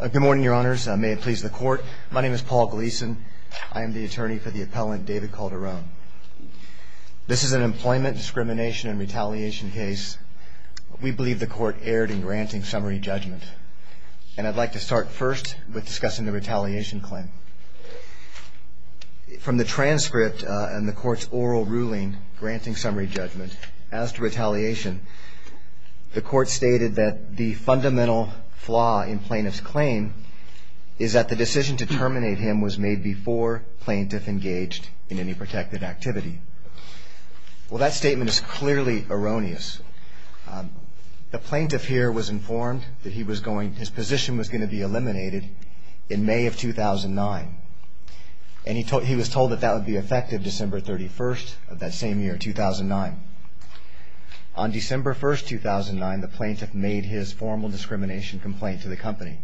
Good morning, your honors. May it please the court. My name is Paul Gleason. I am the attorney for the appellant, David Calderon. This is an employment discrimination and retaliation case. We believe the court erred in granting summary judgment. And I'd like to start first with discussing the retaliation claim. From the transcript and the court's oral ruling, granting summary judgment, as to retaliation, the court stated that the fundamental flaw in plaintiff's claim is that the decision to terminate him was made before plaintiff engaged in any protected activity. Well, that statement is clearly erroneous. The plaintiff here was informed that his position was going to be eliminated in May of 2009. And he was told that that would be effective December 31st of that same year, 2009. On December 1st, 2009, the plaintiff made his formal discrimination complaint to the company.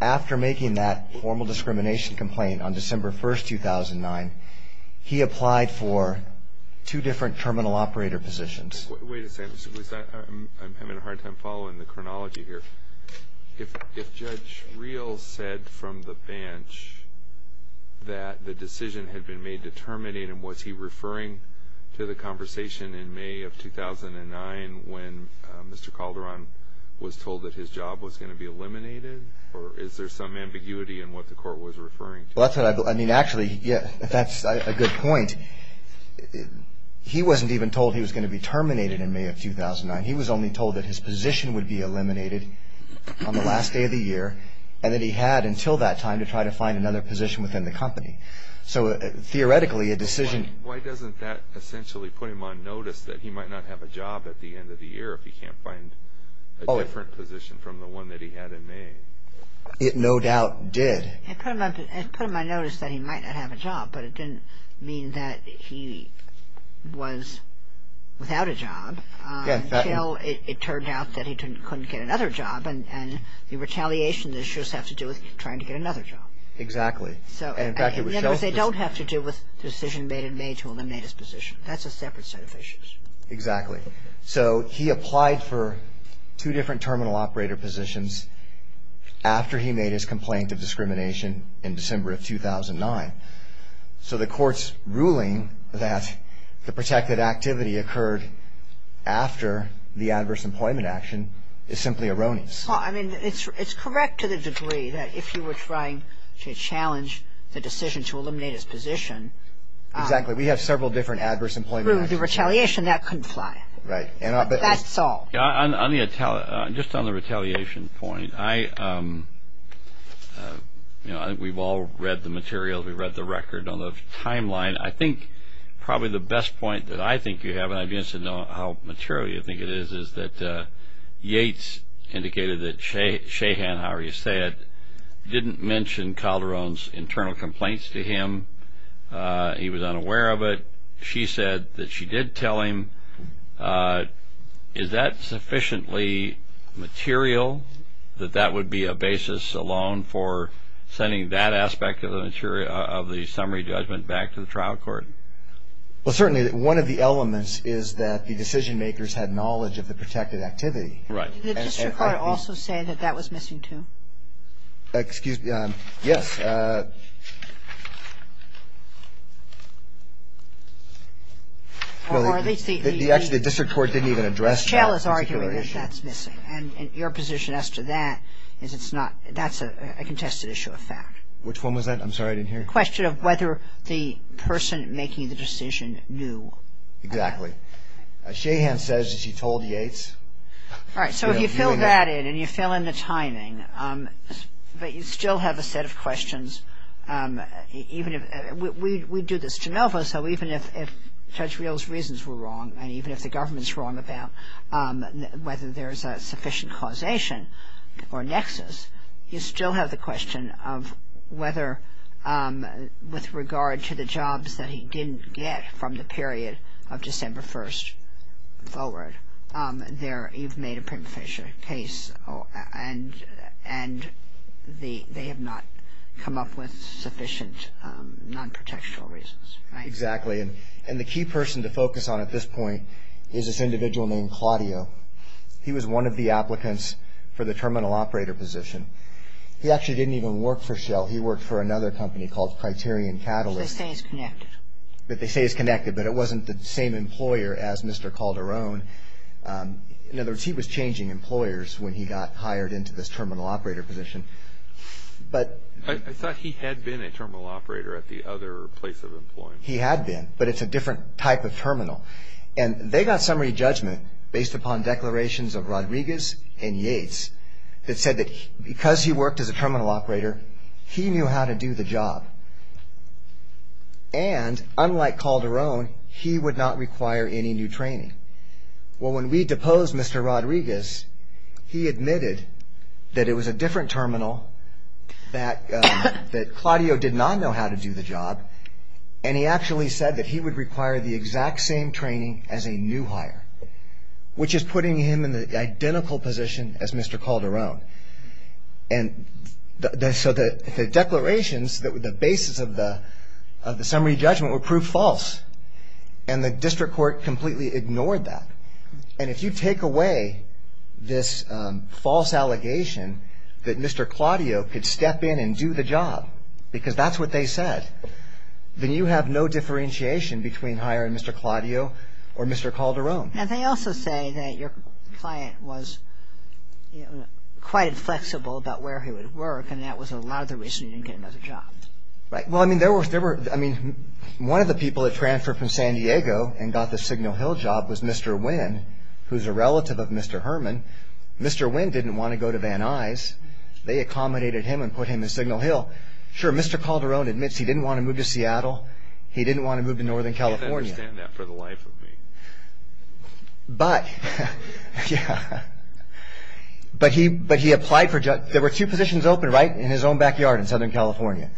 After making that formal discrimination complaint on December 1st, 2009, he applied for two different terminal operator positions. Wait a second. I'm having a hard time following the chronology here. If Judge Reel said from the bench that the decision had been made to terminate him, was he referring to the conversation in May of 2009 when Mr. Calderon was told that his job was going to be eliminated? Or is there some ambiguity in what the court was referring to? I mean, actually, that's a good point. He wasn't even told he was going to be terminated in May of 2009. He was only told that his position would be eliminated on the last day of the year, and that he had until that time to try to find another position within the company. So, theoretically, a decision... Why doesn't that essentially put him on notice that he might not have a job at the end of the year if he can't find a different position from the one that he had in May? It no doubt did. It put him on notice that he might not have a job, but it didn't mean that he was without a job until it turned out that he couldn't get another job. And the retaliation issues have to do with trying to get another job. Exactly. In other words, they don't have to do with the decision made in May to eliminate his position. That's a separate set of issues. Exactly. So he applied for two different terminal operator positions after he made his complaint of discrimination in December of 2009. So the court's ruling that the protected activity occurred after the adverse employment action is simply erroneous. I mean, it's correct to the degree that if you were trying to challenge the decision to eliminate his position... Exactly. We have several different adverse employment actions. Through the retaliation, that couldn't fly. Right. That's all. Just on the retaliation point, I think we've all read the materials. We've read the record on the timeline. I think probably the best point that I think you have, and I'd be interested to know how material you think it is, is that Yates indicated that Shahan, however you say it, didn't mention Calderon's internal complaints to him. He was unaware of it. She said that she did tell him. Is that sufficiently material that that would be a basis alone for sending that aspect of the summary judgment back to the trial court? Well, certainly one of the elements is that the decision makers had knowledge of the protected activity. Right. Did the district court also say that that was missing, too? Excuse me. Yes. Well, at least the... Actually, the district court didn't even address that particular issue. The trial is arguing that that's missing, and your position as to that is it's not. That's a contested issue of fact. Which one was that? I'm sorry, I didn't hear. The question of whether the person making the decision knew. Exactly. Shahan says that she told Yates. All right. So if you fill that in, and you fill in the timing, but you still have a set of questions. We do this at Genova, so even if Judge Reel's reasons were wrong, and even if the government's wrong about whether there's a sufficient causation or nexus, you still have the question of whether with regard to the jobs that he didn't get from the period of December 1st forward, you've made a prima facie case, and they have not come up with sufficient non-protectional reasons. Right. Exactly. And the key person to focus on at this point is this individual named Claudio. He was one of the applicants for the terminal operator position. He actually didn't even work for Shell. He worked for another company called Criterion Catalyst. They say it's connected. They say it's connected, but it wasn't the same employer as Mr. Calderon. In other words, he was changing employers when he got hired into this terminal operator position. I thought he had been a terminal operator at the other place of employment. He had been, but it's a different type of terminal. And they got summary judgment based upon declarations of Rodriguez and Yates that said that because he worked as a terminal operator, he knew how to do the job. And unlike Calderon, he would not require any new training. Well, when we deposed Mr. Rodriguez, he admitted that it was a different terminal, that Claudio did not know how to do the job, and he actually said that he would require the exact same training as a new hire, which is putting him in the identical position as Mr. Calderon. And so the declarations, the basis of the summary judgment were proved false, and the district court completely ignored that. And if you take away this false allegation that Mr. Claudio could step in and do the job, because that's what they said, then you have no differentiation between hiring Mr. Claudio or Mr. Calderon. And they also say that your client was quite inflexible about where he would work, and that was a lot of the reason you didn't get another job. Right. Well, I mean, there were, I mean, one of the people that transferred from San Diego and got the Signal Hill job was Mr. Wynn, who's a relative of Mr. Herman. Mr. Wynn didn't want to go to Van Nuys. They accommodated him and put him in Signal Hill. Sure, Mr. Calderon admits he didn't want to move to Seattle. He didn't want to move to Northern California. I didn't understand that for the life of me. But, yeah, but he applied for, there were two positions open, right, in his own backyard in Southern California.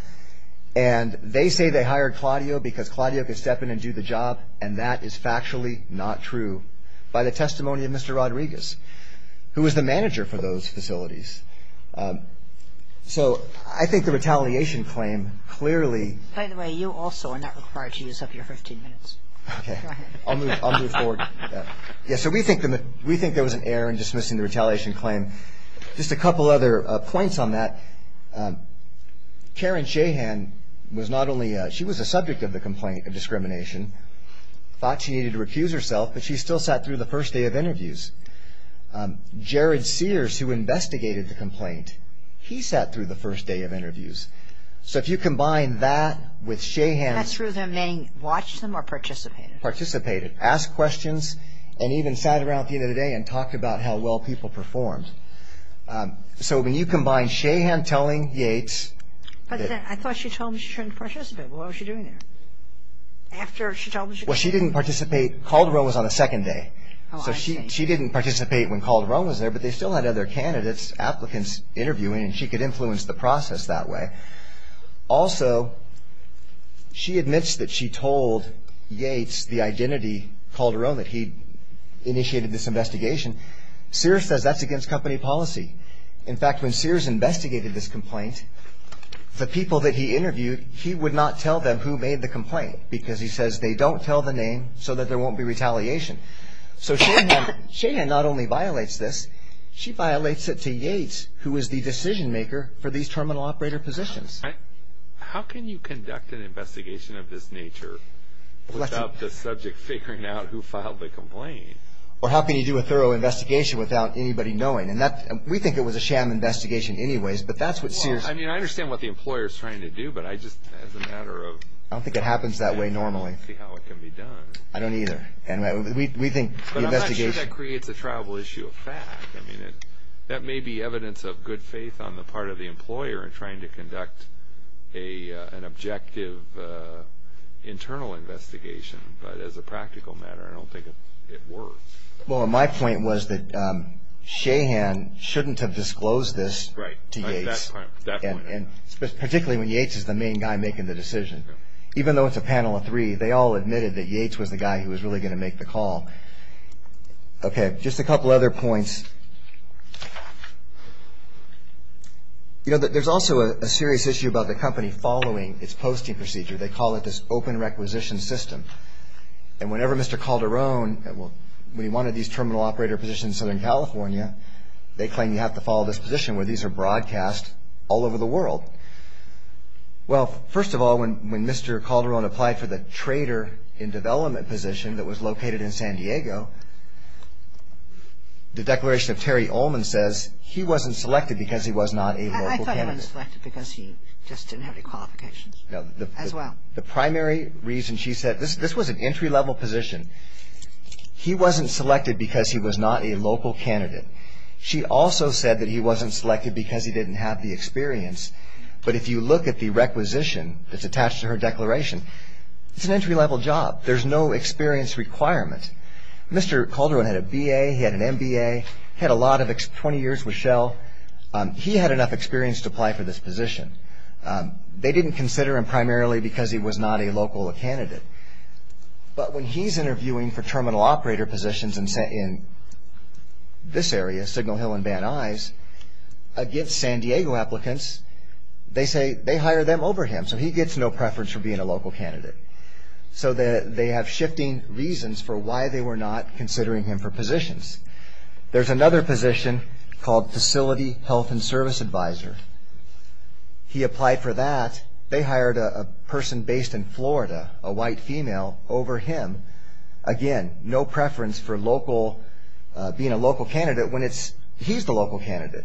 And they say they hired Claudio because Claudio could step in and do the job, and that is factually not true. So, I think the retaliation claim clearly. By the way, you also are not required to use up your 15 minutes. Okay. Go ahead. I'll move forward. Yeah, so we think there was an error in dismissing the retaliation claim. Just a couple other points on that. Karen Shahan was not only, she was a subject of the complaint of discrimination, Calderon sat through the first day of interviews. Jared Sears, who investigated the complaint, he sat through the first day of interviews. So, if you combine that with Shahan. Passed through them, meaning watched them or participated. Participated. Asked questions and even sat around at the end of the day and talked about how well people performed. So, when you combine Shahan telling Yates. I thought she told me she shouldn't participate. What was she doing there? After she told me she couldn't. Well, she didn't participate. Calderon was on the second day. Oh, I see. So, she didn't participate when Calderon was there. But they still had other candidates, applicants interviewing. And she could influence the process that way. Also, she admits that she told Yates the identity, Calderon, that he initiated this investigation. Sears says that's against company policy. In fact, when Sears investigated this complaint. The people that he interviewed, he would not tell them who made the complaint. Because he says they don't tell the name so that there won't be retaliation. So, Shahan not only violates this. She violates it to Yates who is the decision maker for these terminal operator positions. How can you conduct an investigation of this nature without the subject figuring out who filed the complaint? Or how can you do a thorough investigation without anybody knowing? And we think it was a sham investigation anyways. But that's what Sears. I mean, I understand what the employer is trying to do. But I just, as a matter of. I don't think it happens that way normally. I don't see how it can be done. I don't either. And we think the investigation. But I'm not sure that creates a triable issue of fact. I mean, that may be evidence of good faith on the part of the employer in trying to conduct an objective internal investigation. But as a practical matter, I don't think it works. Well, my point was that Shahan shouldn't have disclosed this to Yates. Right. Even though it's a panel of three, they all admitted that Yates was the guy who was really going to make the call. Okay. Just a couple other points. You know, there's also a serious issue about the company following its posting procedure. They call it this open requisition system. And whenever Mr. Calderon, when he wanted these terminal operator positions in Southern California, they claim you have to follow this position where these are broadcast all over the world. Well, first of all, when Mr. Calderon applied for the trader in development position that was located in San Diego, the declaration of Terry Ullman says he wasn't selected because he was not a local candidate. I thought he wasn't selected because he just didn't have any qualifications. No. As well. The primary reason she said, this was an entry-level position. He wasn't selected because he was not a local candidate. She also said that he wasn't selected because he didn't have the experience. But if you look at the requisition that's attached to her declaration, it's an entry-level job. There's no experience requirement. Mr. Calderon had a BA. He had an MBA. He had a lot of 20 years with Shell. He had enough experience to apply for this position. They didn't consider him primarily because he was not a local candidate. But when he's interviewing for terminal operator positions in this area, Signal Hill and Van Nuys, against San Diego applicants, they say they hire them over him. So he gets no preference for being a local candidate. So they have shifting reasons for why they were not considering him for positions. There's another position called facility health and service advisor. He applied for that. They hired a person based in Florida, a white female, over him. Again, no preference for being a local candidate when he's the local candidate.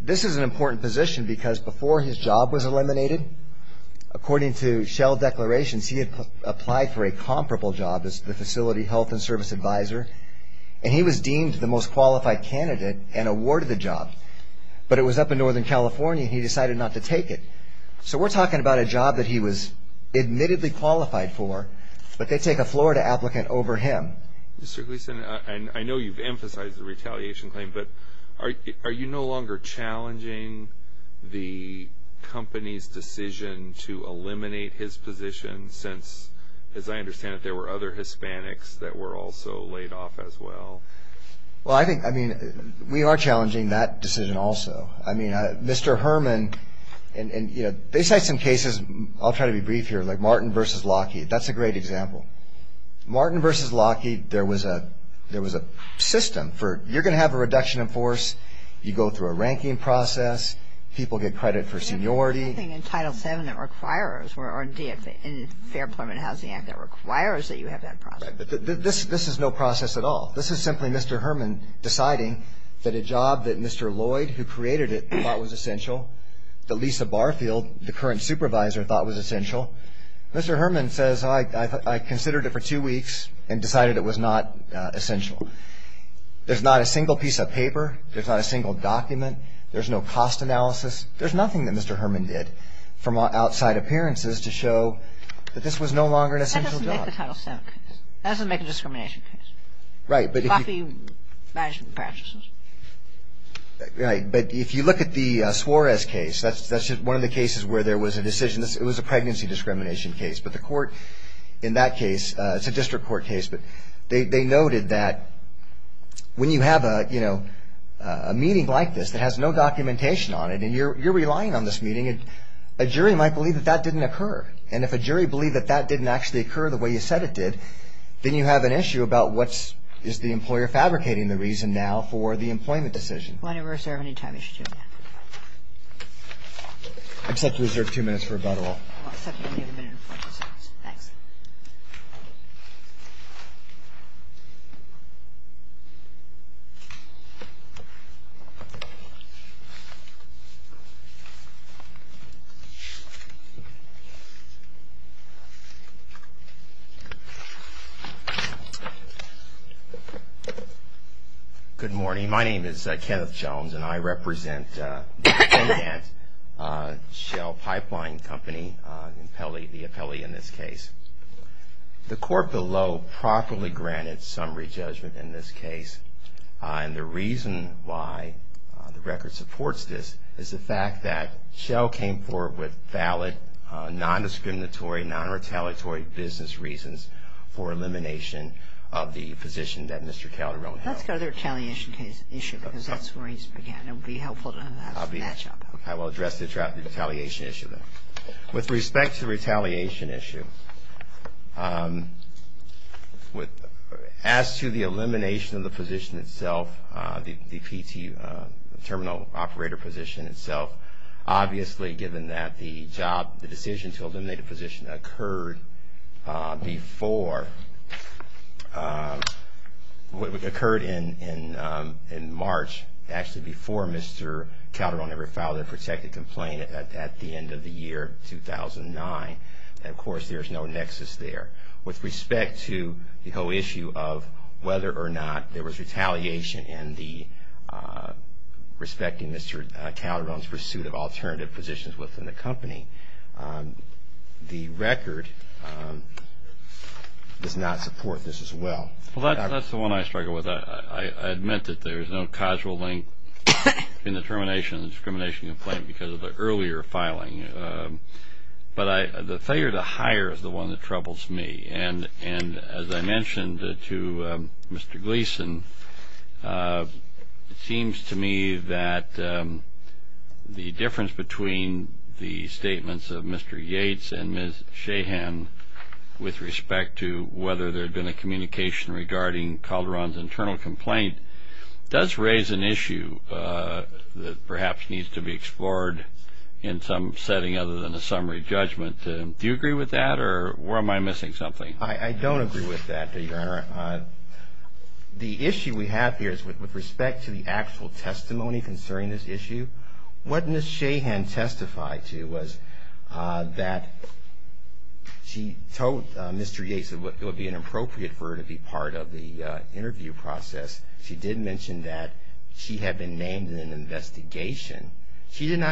This is an important position because before his job was eliminated, according to Shell declarations, he had applied for a comparable job as the facility health and service advisor, and he was deemed the most qualified candidate and awarded the job. But it was up in Northern California, and he decided not to take it. So we're talking about a job that he was admittedly qualified for, but they take a Florida applicant over him. Mr. Gleason, I know you've emphasized the retaliation claim, but are you no longer challenging the company's decision to eliminate his position since, as I understand it, there were other Hispanics that were also laid off as well? Well, I think, I mean, we are challenging that decision also. I mean, Mr. Herman, and, you know, they cite some cases. I'll try to be brief here, like Martin v. Lockheed. That's a great example. Martin v. Lockheed, there was a system for you're going to have a reduction in force. You go through a ranking process. People get credit for seniority. There's nothing in Title VII that requires or in Fair Employment and Housing Act that requires that you have that process. This is no process at all. This is simply Mr. Herman deciding that a job that Mr. Lloyd, who created it, thought was essential, that Lisa Barfield, the current supervisor, thought was essential. Mr. Herman says, I considered it for two weeks and decided it was not essential. There's not a single piece of paper. There's not a single document. There's no cost analysis. There's nothing that Mr. Herman did from outside appearances to show that this was no longer an essential job. That doesn't make the Title VII case. Right, but if you look at the Suarez case, that's one of the cases where there was a decision. It was a pregnancy discrimination case, but the court in that case, it's a district court case, but they noted that when you have a meeting like this that has no documentation on it and you're relying on this meeting, a jury might believe that that didn't occur. And if a jury believed that that didn't actually occur the way you said it did, then you have an issue about what is the employer fabricating the reason now for the employment decision. I'd like to reserve two minutes for rebuttal. I'll give you a minute. Thanks. Good morning. My name is Kenneth Jones, and I represent Shell Pipeline Company, the appellee in this case. The court below properly granted summary judgment in this case, and the reason why the record supports this is the fact that Shell came forward with valid, non-discriminatory, non-retaliatory business reasons for elimination of the position that Mr. Calderon held. Let's go to the retaliation issue because that's where he began. It would be helpful to have that job. I will address the retaliation issue then. With respect to the retaliation issue, as to the elimination of the position itself, the PT, the terminal operator position itself, obviously given that the decision to eliminate the position occurred in March, actually before Mr. Calderon ever filed a protected complaint at the end of the year 2009, of course there's no nexus there. With respect to the whole issue of whether or not there was retaliation and respecting Mr. Calderon's pursuit of alternative positions within the company, the record does not support this as well. Well, that's the one I struggle with. I admit that there is no causal link in the termination of the discrimination complaint because of the earlier filing. But the failure to hire is the one that troubles me. And as I mentioned to Mr. Gleason, it seems to me that the difference between the statements of Mr. Yates and Ms. Shahan with respect to whether there had been a communication regarding Calderon's internal complaint does raise an issue that perhaps needs to be explored in some setting other than a summary judgment. Do you agree with that or am I missing something? I don't agree with that, Your Honor. The issue we have here is with respect to the actual testimony concerning this issue, what Ms. Shahan testified to was that she told Mr. Yates that it would be inappropriate for her to be part of the interview process. She did not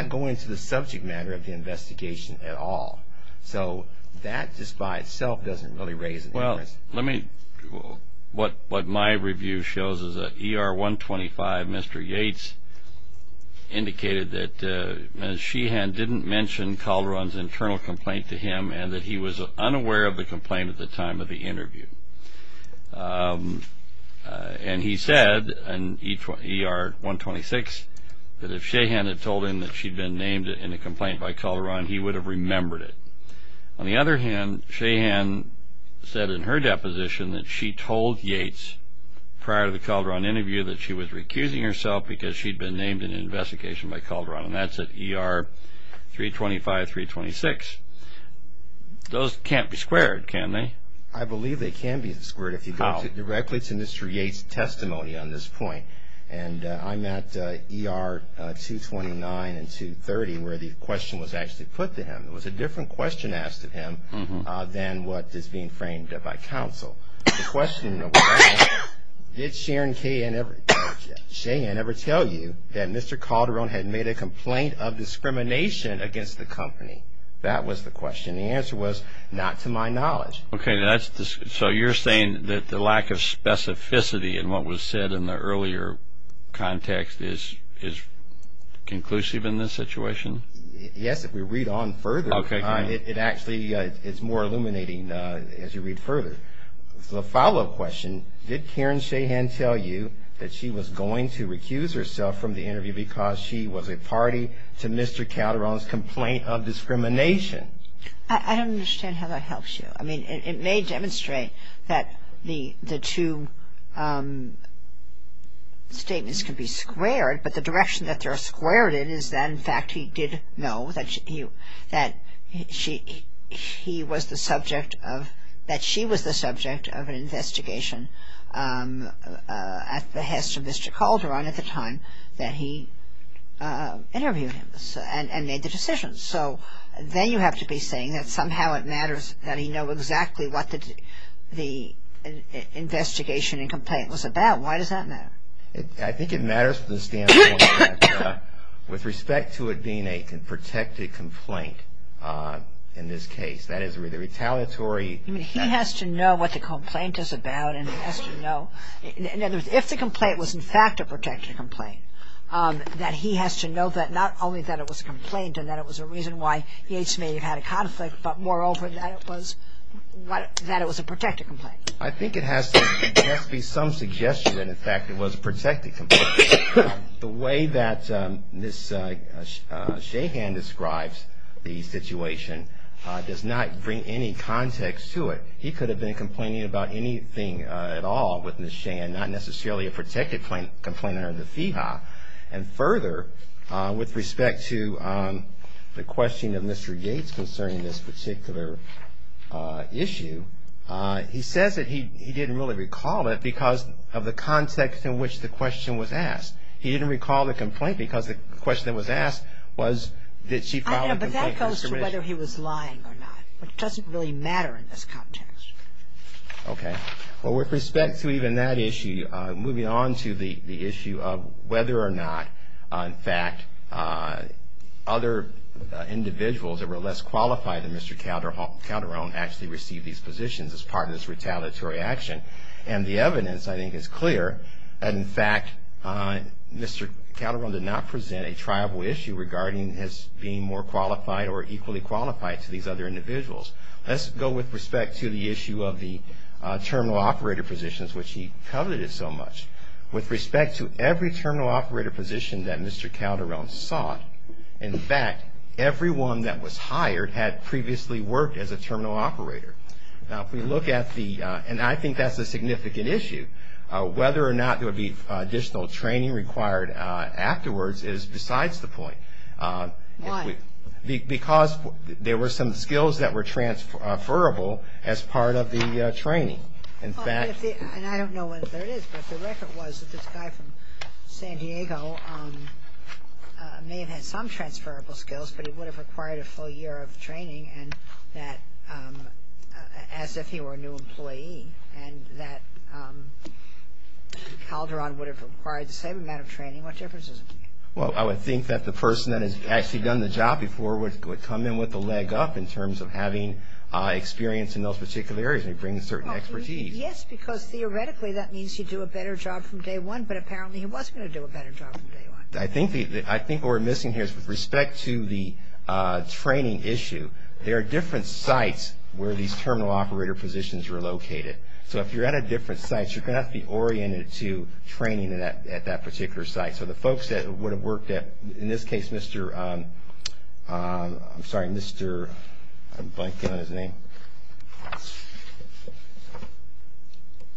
go into the subject matter of the investigation at all. So that just by itself doesn't really raise an interest. Well, what my review shows is that ER 125, Mr. Yates, indicated that Ms. Shahan didn't mention Calderon's internal complaint to him and that he was unaware of the complaint at the time of the interview. And he said in ER 126 that if Shahan had told him that she'd been named in a complaint by Calderon, he would have remembered it. On the other hand, Shahan said in her deposition that she told Yates prior to the Calderon interview that she was recusing herself because she'd been named in an investigation by Calderon, and that's at ER 325, 326. Those can't be squared, can they? I believe they can be squared if you go directly to Mr. Yates' testimony on this point. And I'm at ER 229 and 230 where the question was actually put to him. It was a different question asked of him than what is being framed by counsel. The question was, did Shahan ever tell you that Mr. Calderon had made a complaint of discrimination against the company? That was the question. The answer was, not to my knowledge. Okay. So you're saying that the lack of specificity in what was said in the earlier context is conclusive in this situation? Yes, if we read on further, it actually is more illuminating as you read further. The follow-up question, did Karen Shahan tell you that she was going to recuse herself from the interview because she was a party to Mr. Calderon's complaint of discrimination? I don't understand how that helps you. I mean, it may demonstrate that the two statements can be squared, but the direction that they're squared in is that, in fact, he did know that she was the subject of an investigation at the hest of Mr. Calderon at the time that he interviewed him and made the decision. So then you have to be saying that somehow it matters that he know exactly what the investigation and complaint was about. Why does that matter? I think it matters with respect to it being a protected complaint in this case. That is, retaliatory. I mean, he has to know what the complaint is about, and he has to know. In other words, if the complaint was, in fact, a protected complaint, that he has to know that not only that it was a complaint and that it was a reason why he had a conflict, but, moreover, that it was a protected complaint. I think it has to be some suggestion that, in fact, it was a protected complaint. The way that Ms. Shahan describes the situation does not bring any context to it. He could have been complaining about anything at all with Ms. Shahan, not necessarily a protected complaint under the FEHA. And further, with respect to the question of Mr. Yates concerning this particular issue, he says that he didn't really recall it because of the context in which the question was asked. He didn't recall the complaint because the question that was asked was, did she file a complaint with the commission? I know, but that goes to whether he was lying or not. It doesn't really matter in this context. Okay. Well, with respect to even that issue, moving on to the issue of whether or not, in fact, other individuals that were less qualified than Mr. Calderon actually received these positions as part of this retaliatory action. And the evidence, I think, is clear that, in fact, Mr. Calderon did not present a tribal issue regarding his being more qualified or equally qualified to these other individuals. Let's go with respect to the issue of the terminal operator positions, which he coveted so much. With respect to every terminal operator position that Mr. Calderon sought, in fact, everyone that was hired had previously worked as a terminal operator. Now, if we look at the, and I think that's a significant issue, whether or not there would be additional training required afterwards is besides the point. Why? Because there were some skills that were transferable as part of the training. In fact. And I don't know whether it is, but the record was that this guy from San Diego may have had some transferable skills, but he would have required a full year of training and that, as if he were a new employee, and that Calderon would have required the same amount of training. What difference does it make? Well, I would think that the person that has actually done the job before would come in with a leg up in terms of having experience in those particular areas and bringing certain expertise. Yes, because theoretically that means you do a better job from day one, but apparently he was going to do a better job from day one. I think what we're missing here is with respect to the training issue, there are different sites where these terminal operator positions are located. So if you're at a different site, you're going to have to be oriented to training at that particular site. So the folks that would have worked at, in this case, Mr. I'm sorry, Mr. I'm blanking on his name.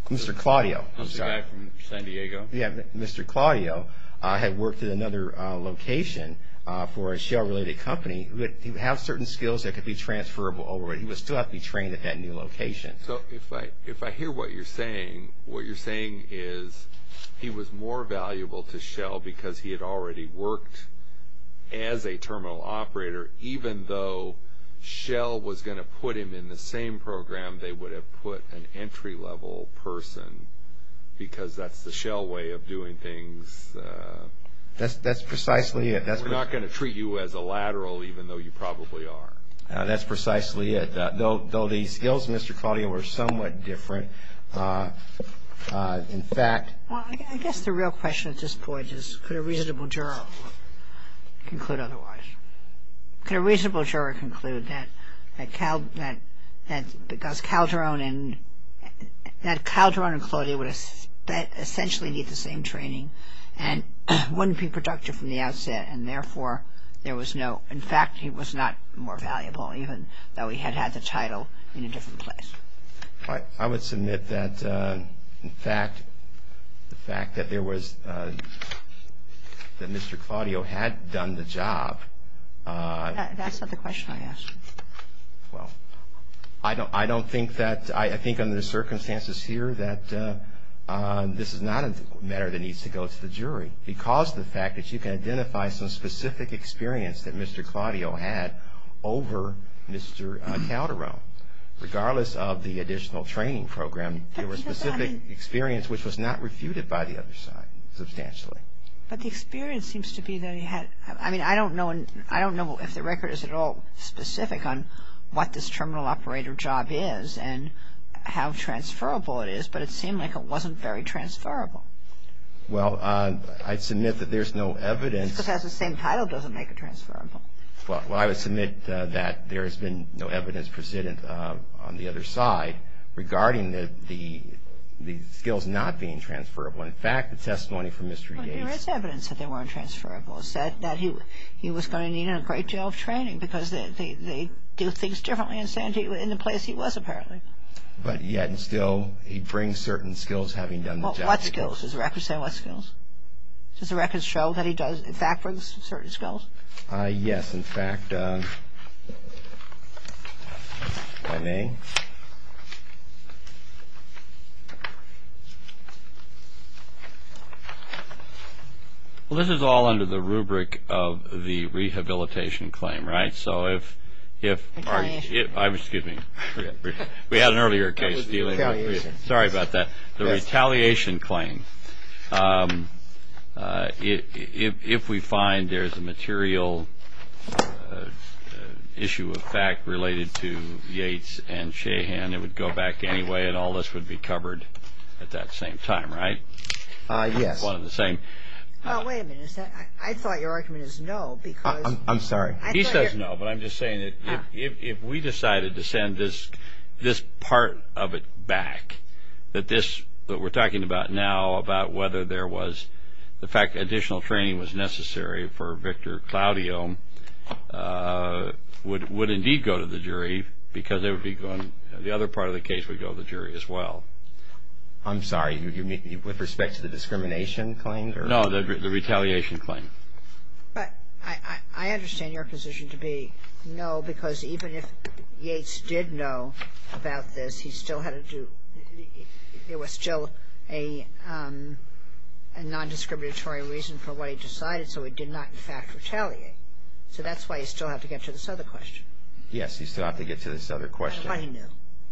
Mr. Claudio. The guy from San Diego? Yes. Mr. Claudio had worked at another location for a shell-related company. He would have certain skills that could be transferable over, but he would still have to be trained at that new location. So if I hear what you're saying, what you're saying is he was more valuable to shell because he had already worked as a terminal operator even though shell was going to put him in the same program they would have put an entry-level person because that's the shell way of doing things. That's precisely it. We're not going to treat you as a lateral even though you probably are. That's precisely it. Though the skills, Mr. Claudio, were somewhat different, in fact Well, I guess the real question at this point is could a reasonable juror conclude otherwise? Could a reasonable juror conclude that Calderon and Claudio would essentially need the same training and wouldn't be productive from the outset and, therefore, there was no In fact, he was not more valuable even though he had had the title in a different place. I would submit that, in fact, the fact that there was that Mr. Claudio had done the job That's not the question I asked. Well, I don't think that I think under the circumstances here that this is not a matter that needs to go to the jury because of the fact that you can identify some specific experience that Mr. Claudio had over Mr. Calderon. Regardless of the additional training program, there was specific experience which was not refuted by the other side substantially. But the experience seems to be that he had I mean, I don't know if the record is at all specific on what this terminal operator job is and how transferable it is, but it seemed like it wasn't very transferable. Well, I'd submit that there's no evidence Just because it has the same title doesn't make it transferable. Well, I would submit that there has been no evidence, President, on the other side regarding the skills not being transferable. In fact, the testimony from Mr. Gates Well, there is evidence that they weren't transferable. It said that he was going to need a great deal of training because they do things differently in San Diego, in the place he was, apparently. But yet, and still, he brings certain skills having done the job. What skills? Does the record say what skills? Does the record show that he does, in fact, bring certain skills? Yes, in fact If I may Well, this is all under the rubric of the rehabilitation claim, right? So, if Excuse me We had an earlier case Sorry about that The retaliation claim If we find there's a material issue of fact related to Yates and Shahan and it would go back anyway and all this would be covered at that same time, right? Yes One of the same Well, wait a minute. I thought your argument is no because I'm sorry He says no, but I'm just saying that if we decided to send this part of it back that this, what we're talking about now, about whether there was the fact that additional training was necessary for Victor Claudio would indeed go to the jury because the other part of the case would go to the jury as well I'm sorry. With respect to the discrimination claim? No, the retaliation claim But I understand your position to be no because even if Yates did know about this, he still had to do It was still a non-discriminatory reason for what he decided, so it did not in fact retaliate So that's why you still have to get to this other question Yes, you still have to get to this other question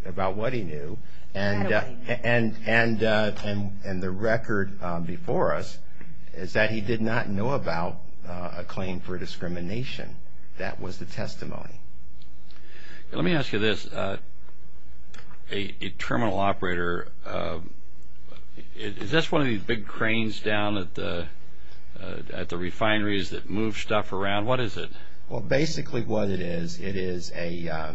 About what he knew About what he knew And the record before us is that he did not know about a claim for discrimination That was the testimony Let me ask you this, a terminal operator, is this one of these big cranes down at the refineries that move stuff around? What is it? Well, basically what it is, it is a,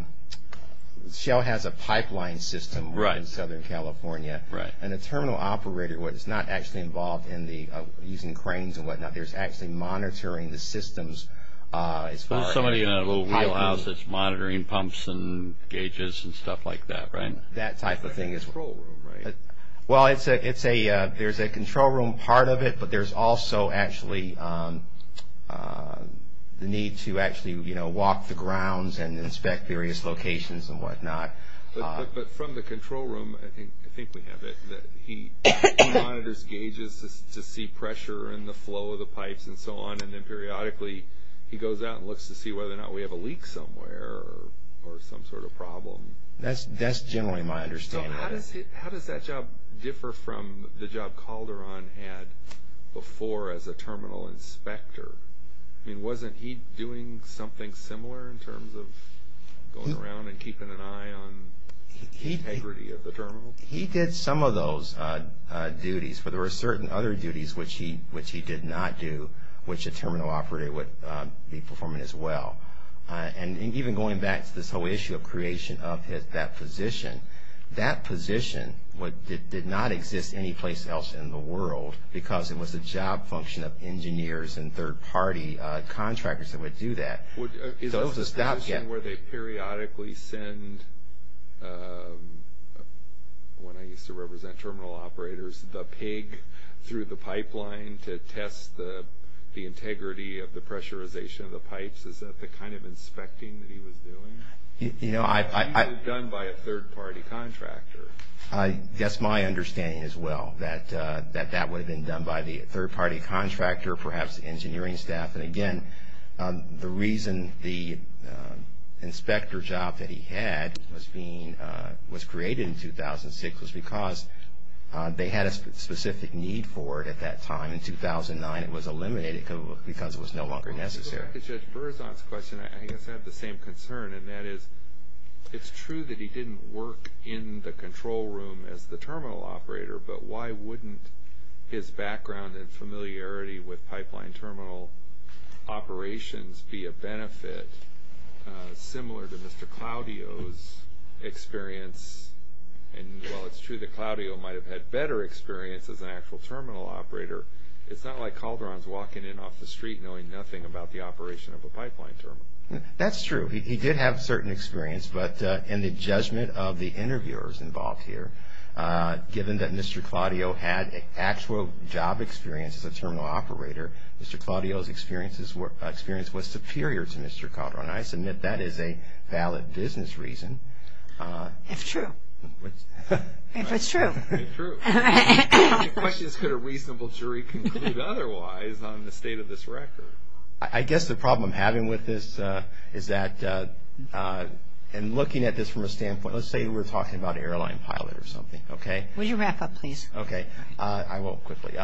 Shell has a pipeline system in Southern California and a terminal operator is not actually involved in using cranes and whatnot There's actually monitoring the systems There's somebody in a little wheelhouse that's monitoring pumps and gauges and stuff like that, right? That type of thing It's a control room, right? Well, it's a, there's a control room part of it, but there's also actually the need to actually walk the grounds and inspect various locations and whatnot But from the control room, I think we have it, that he monitors gauges to see pressure and the flow of the pipes and so on and then periodically he goes out and looks to see whether or not we have a leak somewhere or some sort of problem That's generally my understanding So how does that job differ from the job Calderon had before as a terminal inspector? I mean, wasn't he doing something similar in terms of going around and keeping an eye on the integrity of the terminal? He did some of those duties, but there were certain other duties which he did not do which a terminal operator would be performing as well And even going back to this whole issue of creation of that position That position did not exist any place else in the world because it was a job function of engineers and third party contractors that would do that So it was a stopgap Is that a position where they periodically send, when I used to represent terminal operators, the pig through the pipeline to test the integrity of the pressurization of the pipes? Is that the kind of inspecting that he was doing? He was done by a third party contractor That's my understanding as well, that that would have been done by the third party contractor, perhaps engineering staff And again, the reason the inspector job that he had was created in 2006 was because they had a specific need for it at that time In 2009 it was eliminated because it was no longer necessary Going back to Judge Berzon's question, I guess I have the same concern And that is, it's true that he didn't work in the control room as the terminal operator But why wouldn't his background and familiarity with pipeline terminal operations be a benefit similar to Mr. Claudio's experience And while it's true that Claudio might have had better experience as an actual terminal operator It's not like Calderon's walking in off the street knowing nothing about the operation of a pipeline terminal That's true, he did have certain experience But in the judgment of the interviewers involved here given that Mr. Claudio had actual job experience as a terminal operator Mr. Claudio's experience was superior to Mr. Calderon And I submit that is a valid business reason If true If it's true If true The question is could a reasonable jury conclude otherwise on the state of this record I guess the problem I'm having with this is that And looking at this from a standpoint Let's say we're talking about an airline pilot or something Would you wrap up please I won't quickly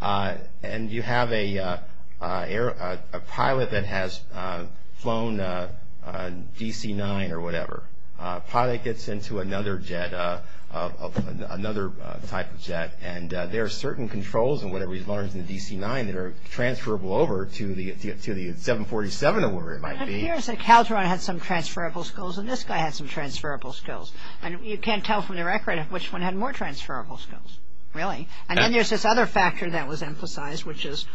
And you have a pilot that has flown DC-9 or whatever Pilot gets into another jet, another type of jet And there are certain controls and whatever he's learned in the DC-9 that are transferable over to the 747 or whatever it might be And it appears that Calderon had some transferable skills And this guy had some transferable skills And you can't tell from the record which one had more transferable skills Really? And then there's this other factor that was emphasized Which is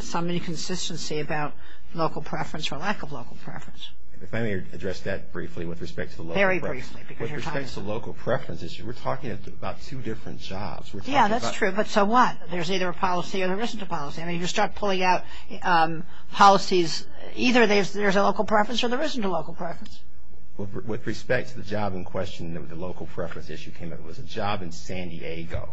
some inconsistency about local preference or lack of local preference If I may address that briefly with respect to the local preference Very briefly With respect to the local preference issue We're talking about two different jobs Yeah, that's true, but so what? There's either a policy or there isn't a policy I mean you start pulling out policies Either there's a local preference or there isn't a local preference With respect to the job in question The local preference issue came up It was a job in San Diego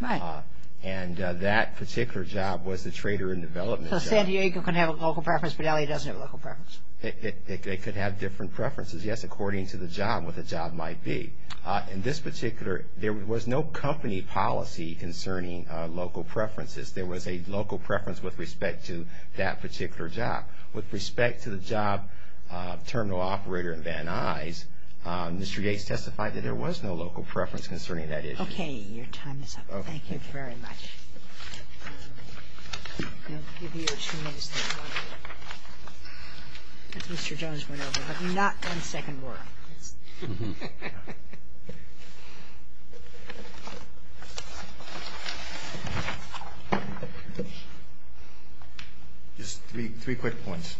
Right And that particular job was the trader in development job So San Diego can have a local preference But LA doesn't have a local preference It could have different preferences Yes, according to the job, what the job might be In this particular There was no company policy concerning local preferences There was a local preference with respect to that particular job With respect to the job terminal operator in Van Nuys Mr. Yates testified that there was no local preference concerning that issue Okay, your time is up Okay Thank you very much I'll give you two minutes to talk As Mr. Jones went over I've not done second work Just three quick points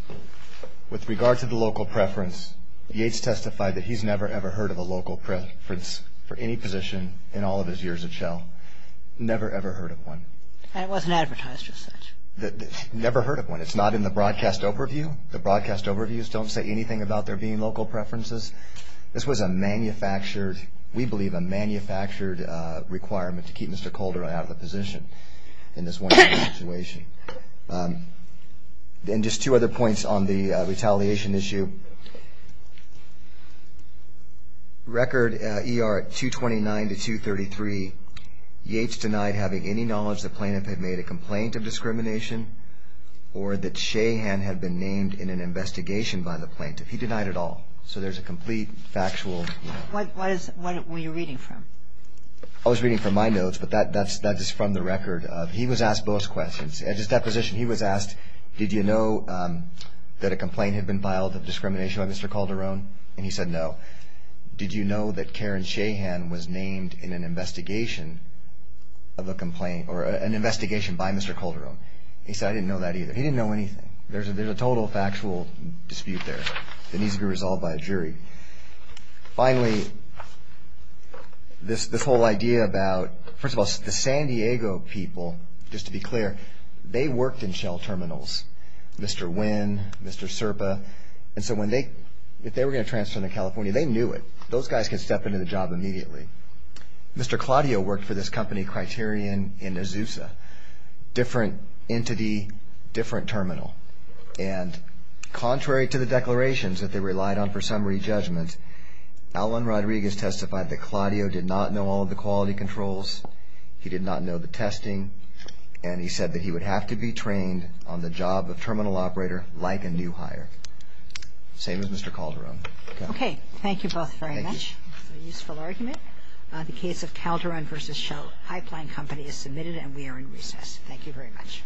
With regard to the local preference Yates testified that he's never ever heard of a local preference For any position in all of his years at Shell Never ever heard of one And it wasn't advertised as such Never heard of one It's not in the broadcast overview The broadcast overviews don't say anything about there being local preferences This was a manufactured We believe a manufactured requirement To keep Mr. Calder out of the position In this one situation And just two other points on the retaliation issue Record ER 229 to 233 Yates denied having any knowledge the plaintiff had made a complaint of discrimination Or that Shahan had been named in an investigation by the plaintiff He denied it all So there's a complete factual What were you reading from? I was reading from my notes But that is from the record He was asked both questions At his deposition he was asked Did you know that a complaint had been filed of discrimination By Mr. Calderon? And he said no Did you know that Karen Shahan was named in an investigation Of a complaint Or an investigation by Mr. Calderon? He said I didn't know that either He didn't know anything There's a total factual dispute there That needs to be resolved by a jury Finally This whole idea about First of all the San Diego people Just to be clear They worked in Shell terminals Mr. Wynn Mr. Serpa And so when they If they were going to transfer to California They knew it Those guys could step into the job immediately Mr. Claudio worked for this company Criterion in Azusa Different entity Different terminal And contrary to the declarations That they relied on for summary judgment Alan Rodriguez testified That Claudio did not know all the quality controls He did not know the testing And he said that he would have to be trained On the job of terminal operator Like a new hire Same as Mr. Calderon Okay, thank you both very much Thank you Useful argument The case of Calderon vs. Shell High-flying company is submitted And we are in recess Thank you very much